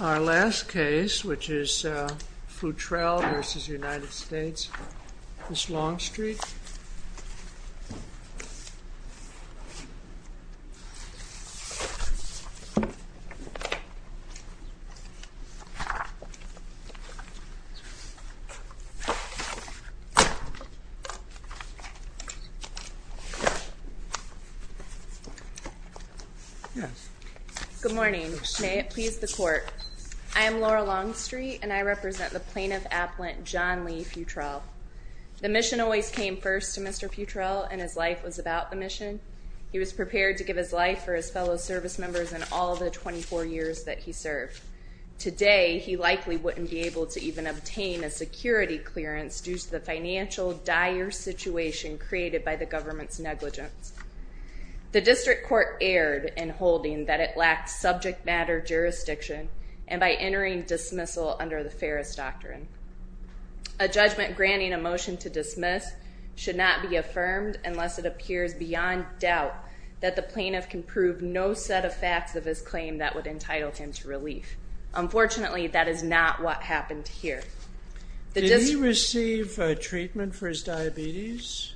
Our last case, which is Futrell v. United States v. Longstreet. Good morning, may it please the court. I am Laura Longstreet, and I represent the plaintiff appellant John Lee Futrell. The mission always came first to Mr. Futrell, and his life was about the mission. He was prepared to give his life for his fellow service members in all the 24 years that he served. Today, he likely wouldn't be able to even obtain a security clearance due to the financial dire situation created by the government's negligence. The district court erred in holding that it lacked subject matter jurisdiction, and by entering a dismissal under the Ferris Doctrine. A judgment granting a motion to dismiss should not be affirmed unless it appears beyond doubt that the plaintiff can prove no set of facts of his claim that would entitle him to relief. Unfortunately, that is not what happened here. Did he receive treatment for his diabetes?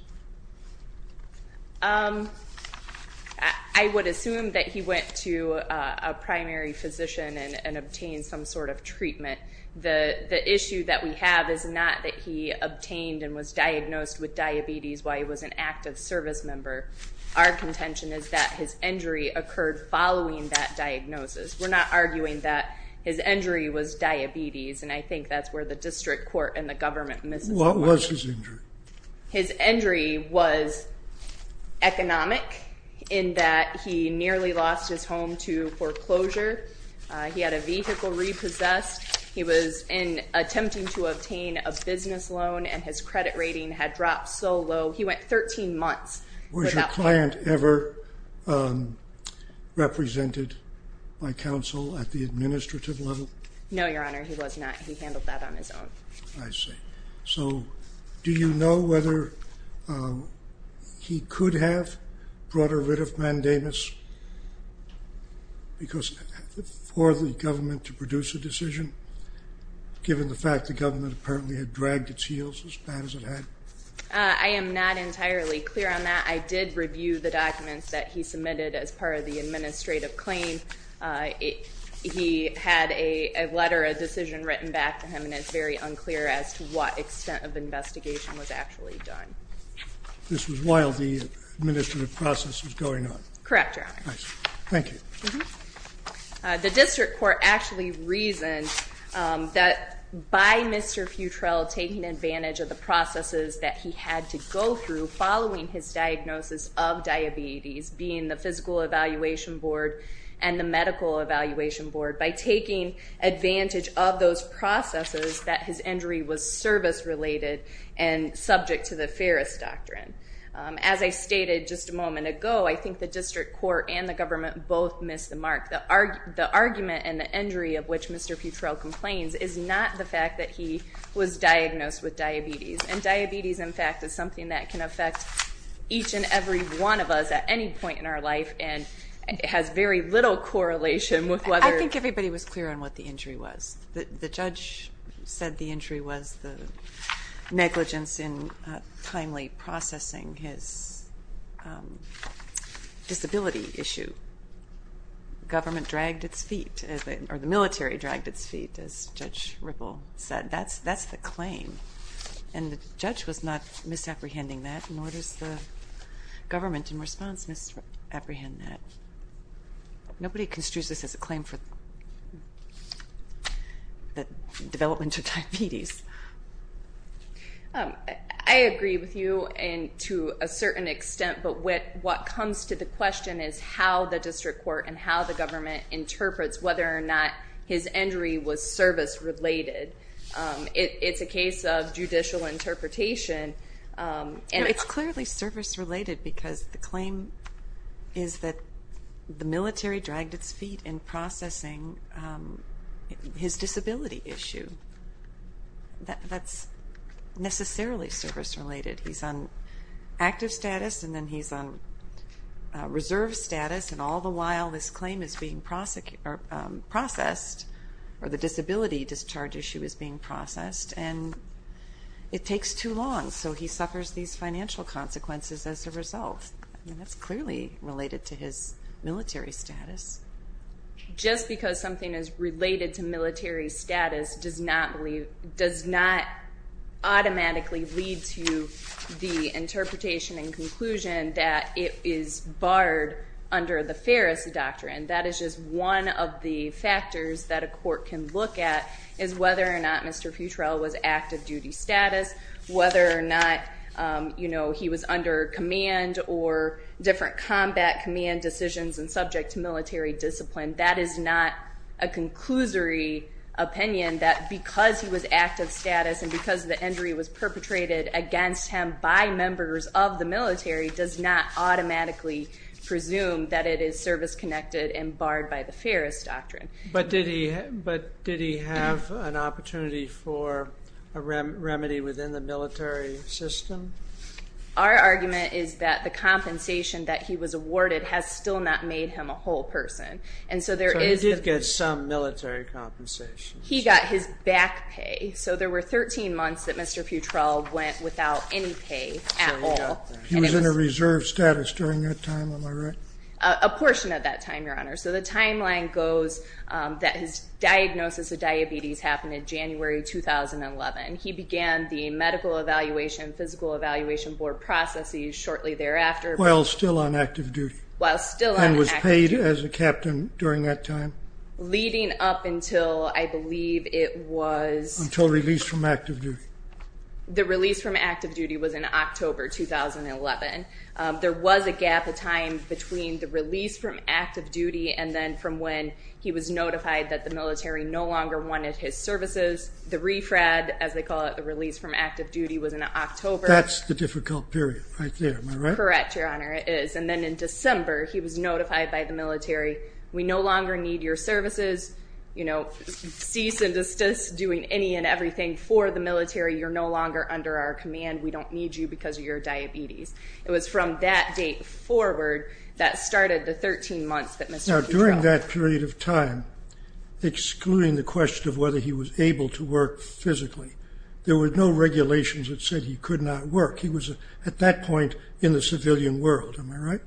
I would assume that he went to a primary physician and obtained some sort of treatment. The issue that we have is not that he obtained and was diagnosed with diabetes while he was an active service member. Our contention is that his injury occurred following that diagnosis. We're not arguing that his injury was diabetes, and I think that's where the district court and the government misses the point. What was his injury? His injury was economic, in that he nearly lost his home to foreclosure. He had a vehicle repossessed. He was attempting to obtain a business loan, and his credit rating had dropped so low. He went 13 months without pay. Was your client ever represented by counsel at the administrative level? No, Your Honor, he was not. He handled that on his own. I see. So, do you know whether he could have brought a writ of mandamus? Because it was for the government to produce a decision, given the fact that the government apparently had dragged its heels as bad as it had? I am not entirely clear on that. I did review the documents that he submitted as part of the administrative claim. He had a letter, a decision written back to him, and it's very unclear as to what extent of investigation was actually done. This was while the administrative process was going on? Correct, Your Honor. Thank you. The District Court actually reasoned that by Mr. Futrell taking advantage of the processes that he had to go through following his diagnosis of diabetes, being the Physical Evaluation Board and the Medical Evaluation Board, by taking advantage of those processes, that his injury was service-related and subject to the Ferris Doctrine. As I stated just a minute ago, Mr. Futrell and the government both missed the mark. The argument and the injury of which Mr. Futrell complains is not the fact that he was diagnosed with diabetes. And diabetes, in fact, is something that can affect each and every one of us at any point in our life, and it has very little correlation with whether... I think everybody was clear on what the injury was. The judge said the injury was the negligence in timely processing his disability issue. The government dragged its feet, or the military dragged its feet, as Judge Ripple said. That's the claim. And the judge was not misapprehending that, nor does the government in response misapprehend that. Nobody construes this as a claim for development of diabetes. I agree with you to a certain extent, but what comes to the question is how the district court and how the government interprets whether or not his injury was service-related. It's a case of judicial interpretation. It's clearly service-related, because the claim is that the military dragged its feet in processing his disability issue. That's necessarily service-related. He's on active status, and then he's on reserve status, and all the while this claim is being processed, or the disability discharge issue is being processed, and it takes too long, so he suffers these financial consequences as a result. That's clearly related to his military status. Just because something is related to military status does not automatically lead to the interpretation and conclusion that it is barred under the Ferris Doctrine. That is just one of the factors that a court can look at, is whether or not Mr. Futrell was active duty status, whether or not he was under command or different combat command decisions and subject to military discipline. That is not a conclusory opinion that because he was active status and because the injury was perpetrated against him by members of the military does not automatically presume that it is service-connected and barred by the Ferris Doctrine. But did he have an opportunity for a remedy within the military system? Our argument is that the compensation that he was awarded has still not made him a whole person. So he did get some military compensation. He got his back pay. So there were 13 months that Mr. Futrell went without any pay at all. He was in a reserve status during that time, am I right? A portion of that time, Your Honor. So the timeline goes that his diagnosis of diabetes happened in January 2011. He began the medical evaluation, physical evaluation board processes shortly thereafter. While still on active duty? While still on active duty. And was paid as a captain during that time? Leading up until I believe it was... Until release from active duty. The release from active duty was in October 2011. There was a gap of time between the release from active duty and then from when he was notified that the military no longer wanted his services. The refrad, as they call it, the release from active duty was in October. That's the difficult period right there, am I right? Correct, Your Honor, it is. And then in December, he was notified by the military, we no longer need your services. You know, cease and desist doing any and everything for the military. You're no longer under our command. We don't need you because of your diabetes. It was from that date forward that started the 13 months that Mr. Pudrell... Now during that period of time, excluding the question of whether he was able to work physically, there were no regulations that said he could not work. He was at that point in the civilian world, am I right?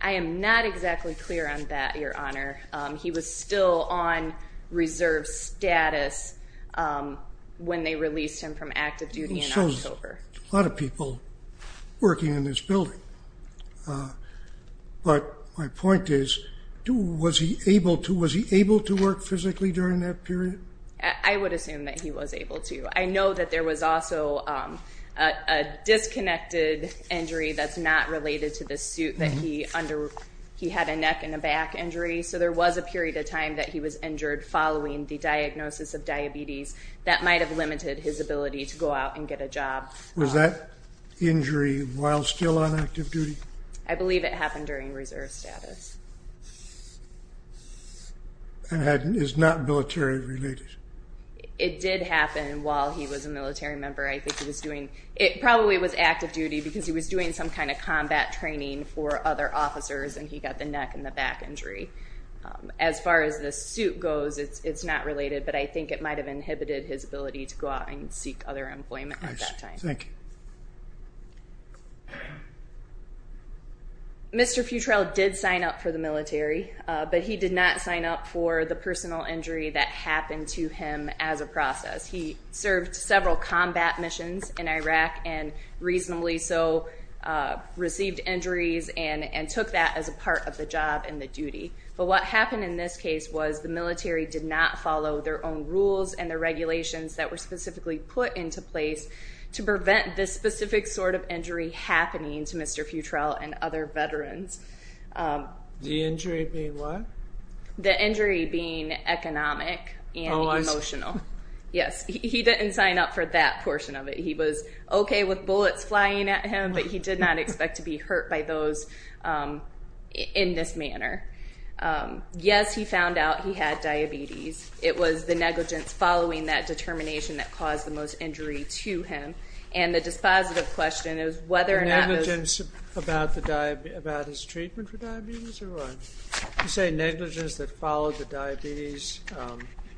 I am not exactly clear on that, Your Honor. He was still on reserve status when they released him from active duty in October. A lot of people working in this building. But my point is, was he able to work physically during that period? I would assume that he was able to. I know that there was also a disconnected injury that's not related to the suit that he under... He had a neck and a back injury, so there was a period of time that he was injured following the diagnosis of diabetes that might have limited his ability to go out and get a job. Was that injury while still on active duty? I believe it happened during reserve status. And is not military related? It did happen while he was a military member. I think he was doing... It probably was active duty because he was doing some kind of combat training for other officers and he got the neck and the back injury. As far as the suit goes, it's not related, but I think it might have inhibited his ability to go out and seek other employment at that time. Mr. Futrell did sign up for the military, but he did not sign up for the personal injury that happened to him as a process. He served several combat missions in Iraq and reasonably so received injuries and took that as a part of the job and the duty. But what happened in this case was the military did not follow their own rules and the regulations that were specifically put into place to prevent this specific sort of injury happening to Mr. Futrell and other veterans. The injury being what? The injury being economic and emotional. Yes, he didn't sign up for that portion of it. He was okay with bullets flying at him, but he did not expect to be hurt by those in this manner. Yes, he found out he had diabetes. It was the negligence following that determination that caused the most injury to him. And the dispositive question is whether or not... Negligence about his treatment for diabetes? You say negligence that followed the diabetes?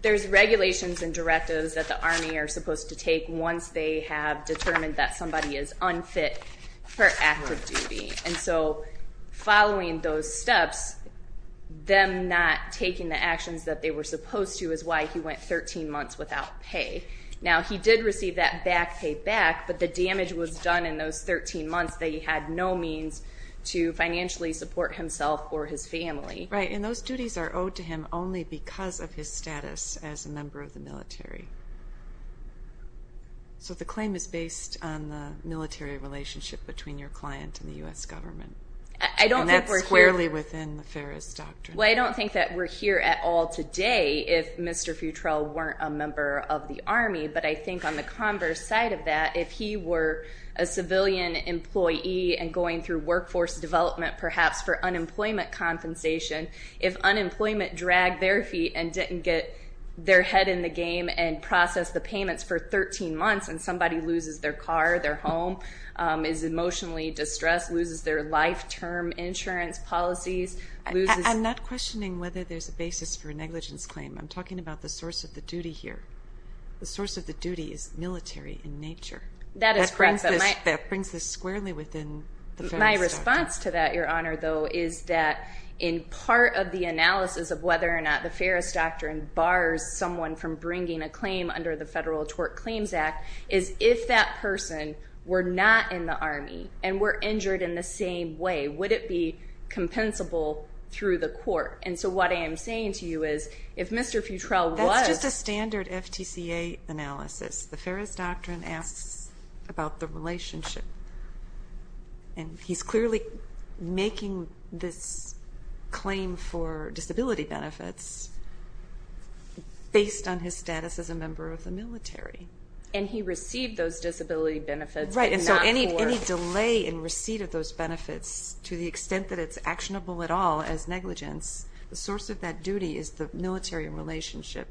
There's regulations and directives that the Army are supposed to take once they have determined that somebody is unfit for active duty. And so following those steps, them not taking the actions that they were supposed to is why he went 13 months without pay. Now, he did receive that back payback, but the damage was done in those 13 months that he had no means to financially support himself or his family. Right, and those duties are owed to him only because of his status as a member of the military. So the claim is based on the military relationship between your client and the U.S. government. And that's squarely within the Ferris Doctrine. Well, I don't think that we're here at all today if Mr. Futrell weren't a member of the Army, but I think on the converse side of that, if he were a civilian employee and going through workforce development perhaps for unemployment compensation, if unemployment dragged their feet and didn't get their head in the game and processed the payments for 13 months and somebody loses their car, their home, is emotionally distressed, loses their life-term insurance policies... I'm not questioning whether there's a basis for a negligence claim. I'm talking about the source of the duty here. The source of the duty is military in nature. That is correct, but my... That brings this squarely within the Ferris Doctrine. My response to that, Your Honor, though, is that in part of the analysis of whether or not the Ferris Doctrine bars someone from bringing a claim under the Federal Tort Claims Act is if that person were not in the Army and were injured in the same way, would it be compensable through the court? And so what I am saying to you is if Mr. Futrell was... That's just a standard FTCA analysis. The Ferris Doctrine asks about the relationship. And he's clearly making this claim for disability benefits based on his status as a member of the military. And he received those disability benefits, but not for... Right, and so any delay in receipt of those benefits to the extent that it's actionable at all as negligence, the source of that duty is the military relationship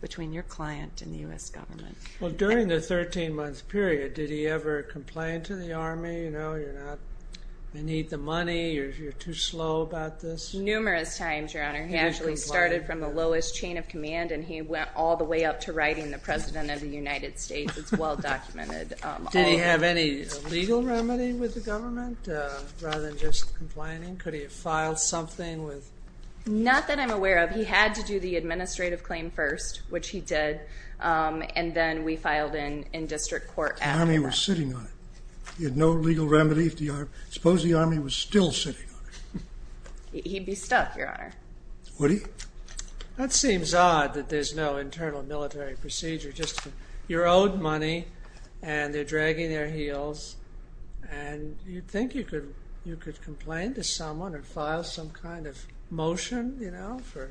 between your client and the U.S. government. Well, during the 13-month period, did he ever complain to the Army, you know, you're not... He actually started from the lowest chain of command and he went all the way up to writing the President of the United States. It's well documented. Did he have any legal remedy with the government rather than just complaining? Could he have filed something with... Not that I'm aware of. He had to do the administrative claim first, which he did, and then we filed in district court after that. The Army was sitting on it. He had no legal remedy. Suppose the Army was still sitting on it. He'd be stuck, Your Honor. Would he? That seems odd that there's no internal military procedure. You're owed money and they're dragging their heels and you'd think you could complain to someone or file some kind of motion, you know, for...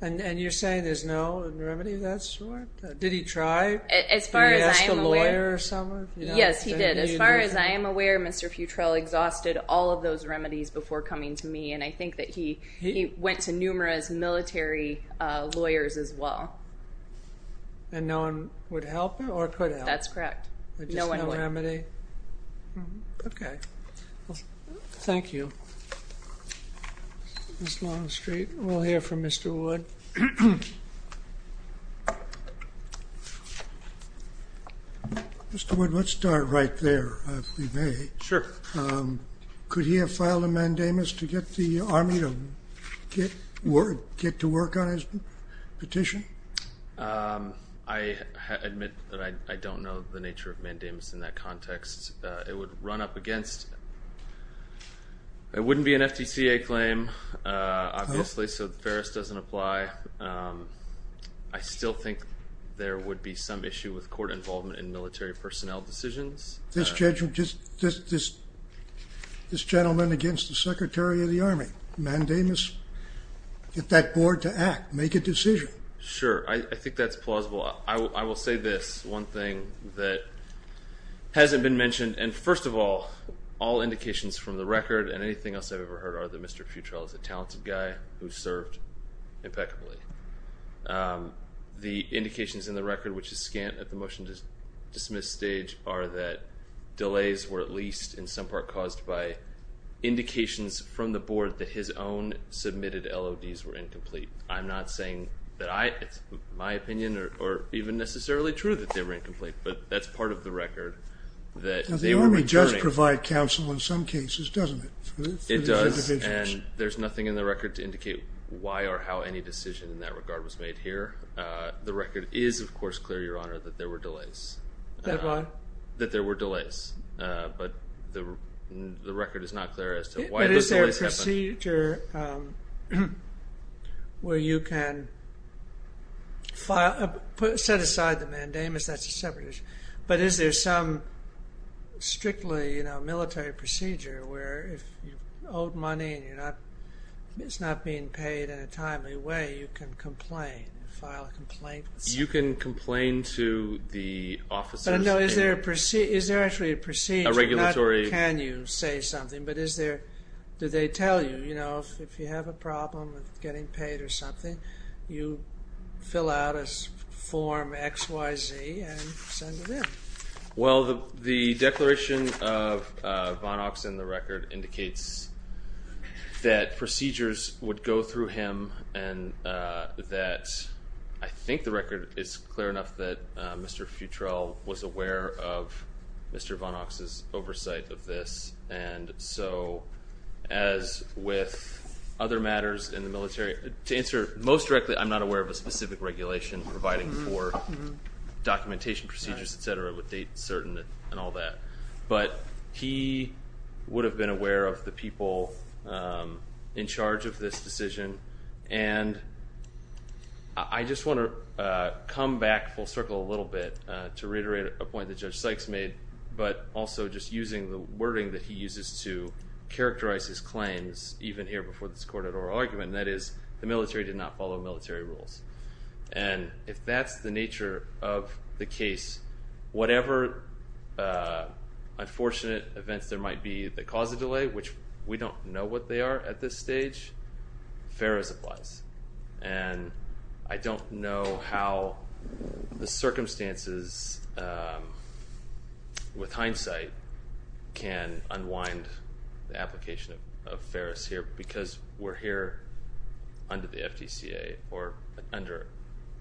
And you're saying there's no remedy of that sort? Did he try? Did he ask a lawyer or someone? Yes, he did. As far as I am aware, Mr. Futrell exhausted all of those remedies before coming to me, and I think that he went to numerous military lawyers as well. And no one would help him or could help him? That's correct. No one would. Thank you. Ms. Longstreet, we'll hear from Mr. Wood. Mr. Wood, let's start right there, if we may. Sure. Could he have filed a mandamus to get the Army to get to work on his petition? I admit that I don't know the nature of mandamus in that context. It would run up against... It wouldn't be an FTCA claim, obviously, so the Ferris doesn't apply. I still think there would be some issue with court involvement in military personnel decisions. This gentleman against the Secretary of the Army. Mandamus. Get that board to act. Make a decision. Sure. I think that's plausible. I will say this. One thing that hasn't been mentioned, and first of all, all indications from the record and anything else I've ever heard are that Mr. Futrell is a talented guy who served impeccably. The indications in the record, which is scant at the motion to dismiss stage, are that delays were at least, in some part, caused by indications from the board that his own submitted LODs were incomplete. I'm not saying that it's my opinion, or even necessarily true that they were incomplete, but that's part of the record. The Army does provide counsel in some cases, doesn't it? It does, and there's nothing in the record to indicate why or how any decision in that regard was made here. The record is, of course, clear, Your Honor, that there were delays. That what? That there were delays, but the record is not clear as to why those delays happened. Is there a procedure where you can set aside the mandamus, that's a separate issue, but is there some strictly military procedure where if you owe money and it's not being paid in a timely way, you can complain, file a complaint. You can complain to the officers. But is there actually a procedure, not can you say something, but is there, do they tell you, you know, if you have a problem with getting paid or something, you fill out a form X, Y, Z and send it in? Well, the declaration of Von Ocks and the record indicates that procedures would go through him and that I think the record is clear enough that Mr. Futrell was aware of Mr. Von Ocks' oversight of this. And so, as with other matters in the military, to answer most directly, I'm not aware of a specific regulation providing for documentation procedures, etc., with date certain and all that. But he would have been aware of the people in charge of this decision and I just want to come back full circle a little bit to reiterate a point that Judge Sykes made but also just using the wording that he uses to characterize his claims, even here before this court at oral argument, that is, the military did not follow military rules. And if that's the nature of the case, whatever unfortunate events there might be that cause a delay, which we don't know what they are at this stage, FAERS applies. And I don't know how the circumstances with hindsight can unwind the application of FAERS here because we're here under the FTCA or under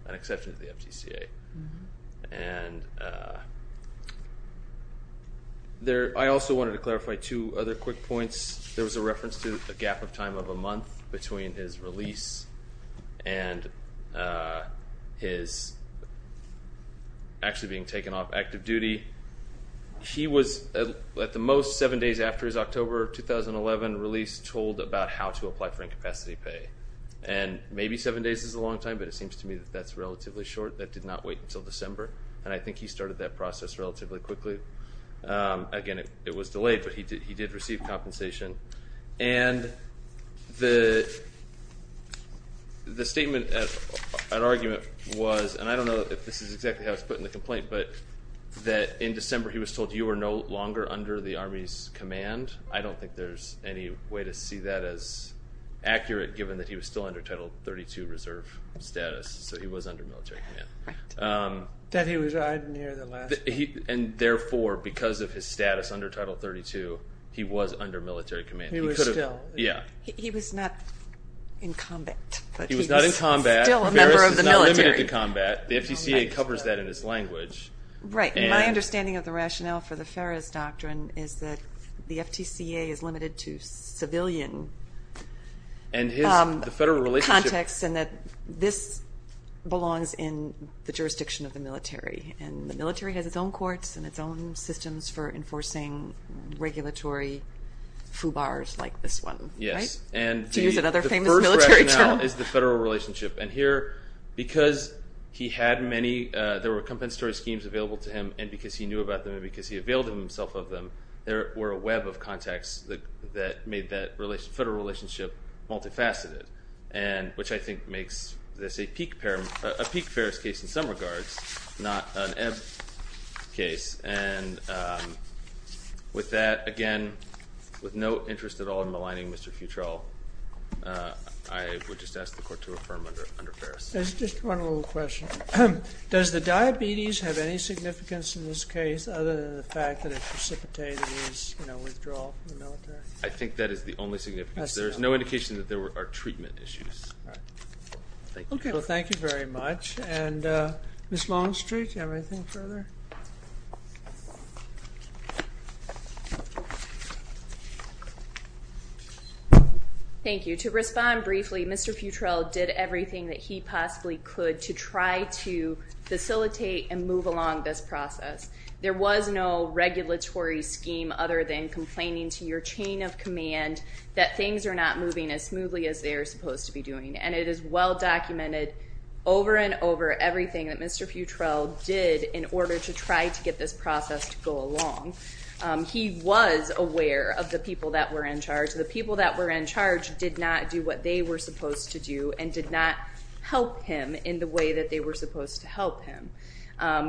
an exception to the FTCA. And I also wanted to clarify two other quick points. There was a reference to a gap of time of a month between his release and his actually being taken off active duty. He was, at the most, seven days after his October 2011 release told about how to apply for incapacity pay. And maybe seven days is a long time but it seems to me that that's relatively short. That did not wait until December. And I think he started that process relatively quickly. Again, it was delayed but he did receive compensation. And the statement and argument was, and I don't know if this is exactly how it's put in the complaint, but that in December he was told, you are no longer under the Army's command. I don't think there's any way to see that as accurate given that he was still under Title 32 reserve status. So he was under military command. That he resigned near the last... And therefore, because of his status under Title 32, he was under military command. He was still. He was not in combat. He was not in combat. He was still a member of the military. The FTCA covers that in its language. My understanding of the rationale for the Ferris Doctrine is that the FTCA is limited to civilian context and that this belongs in the jurisdiction of the military. And the military has its own courts and its own systems for enforcing regulatory FUBARs like this one. To use another famous military term. The first rationale is the federal relationship. And here, because he had many, there were compensatory schemes available to him and because he knew about them and because he availed himself of them, there were a web of contacts that made that federal relationship multifaceted. Which I think makes this a peak Ferris case in some regards, not an ebb case. And with that, again, with no interest at all in maligning Mr. Futrell, I would just ask the court to affirm under Ferris. There's just one little question. Does the diabetes have any significance in this case other than the fact that it precipitated his withdrawal from the military? I think that is the only significance. There's no indication that there are treatment issues. Thank you very much. Ms. Longstreet, do you have anything further? Thank you. To respond briefly, Mr. Futrell did everything that he possibly could to try to facilitate and move along this process. There was no regulatory scheme other than complaining to your chain of command that things are not moving as smoothly as they are supposed to be doing. And it is well documented over and over everything that Mr. Futrell did in order to try to get this process to go along. He was aware of the people that were in charge. The people that were in charge did not do what they were supposed to do and did not help him in the way that they were supposed to help him.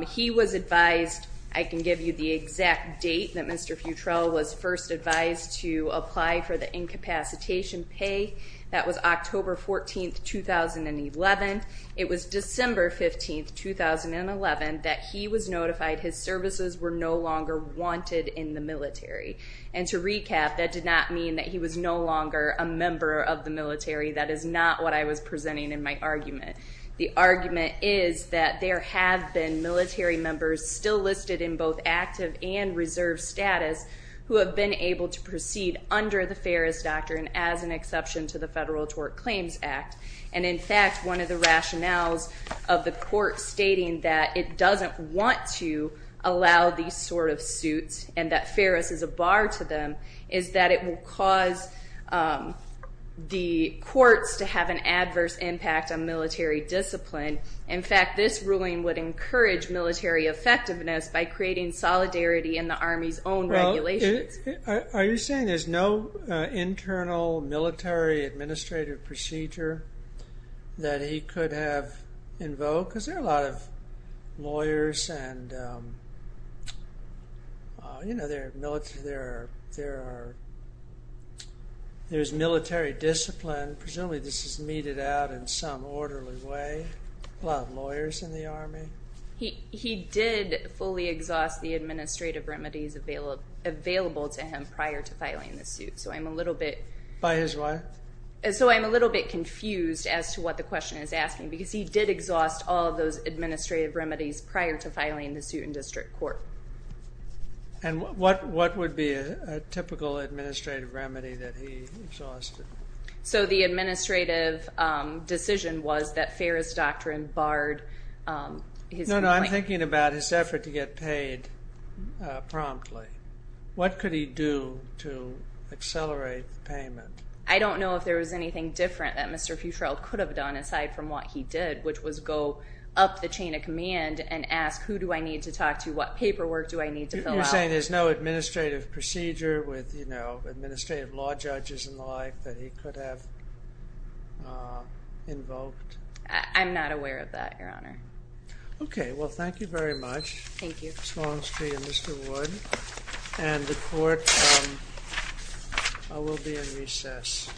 He was advised, I can give you the exact date, that Mr. Futrell was first advised to apply for the incapacitation pay. That was October 14, 2011. It was December 15, 2011 that he was notified his services were no longer wanted in the military. And to recap, that did not mean that he was no longer a member of the military. That is not what I was presenting in my argument. The argument is that there have been military members still listed in both active and reserve status who have been able to proceed under the Ferris Doctrine as an exception to the Federal Tort Claims Act. And in fact, one of the rationales of the court stating that it doesn't want to allow these sort of suits and that Ferris is a bar to them is that it will cause the courts to have an adverse impact on military discipline. In fact, this ruling would encourage military effectiveness by creating solidarity in the Army's own regulations. Are you saying there is no internal military administrative procedure that he could have invoked? Because there are a lot of lawyers and there is military discipline. Presumably this is meted out in some orderly way. A lot of lawyers in the Army. He did fully exhaust the administrative remedies available to him prior to filing the suit. So I'm a little bit confused as to what the question is asking. Because he did exhaust all of those administrative remedies prior to filing the suit in district court. And what would be a typical administrative remedy that he exhausted? So the administrative decision was that Ferris doctrine barred his complaint. No, no. I'm thinking about his effort to get paid promptly. What could he do to accelerate payment? I don't know if there was anything different that Mr. Futrell could have done aside from what he did, which was go up the chain of command and ask who do I need to talk to? What paperwork do I need to fill out? You're saying there's no administrative law judges and the like that he could have invoked? I'm not aware of that, Your Honor. Okay, well thank you very much. Thank you. Ms. Longstreet and Mr. Wood. And the court will be in recess.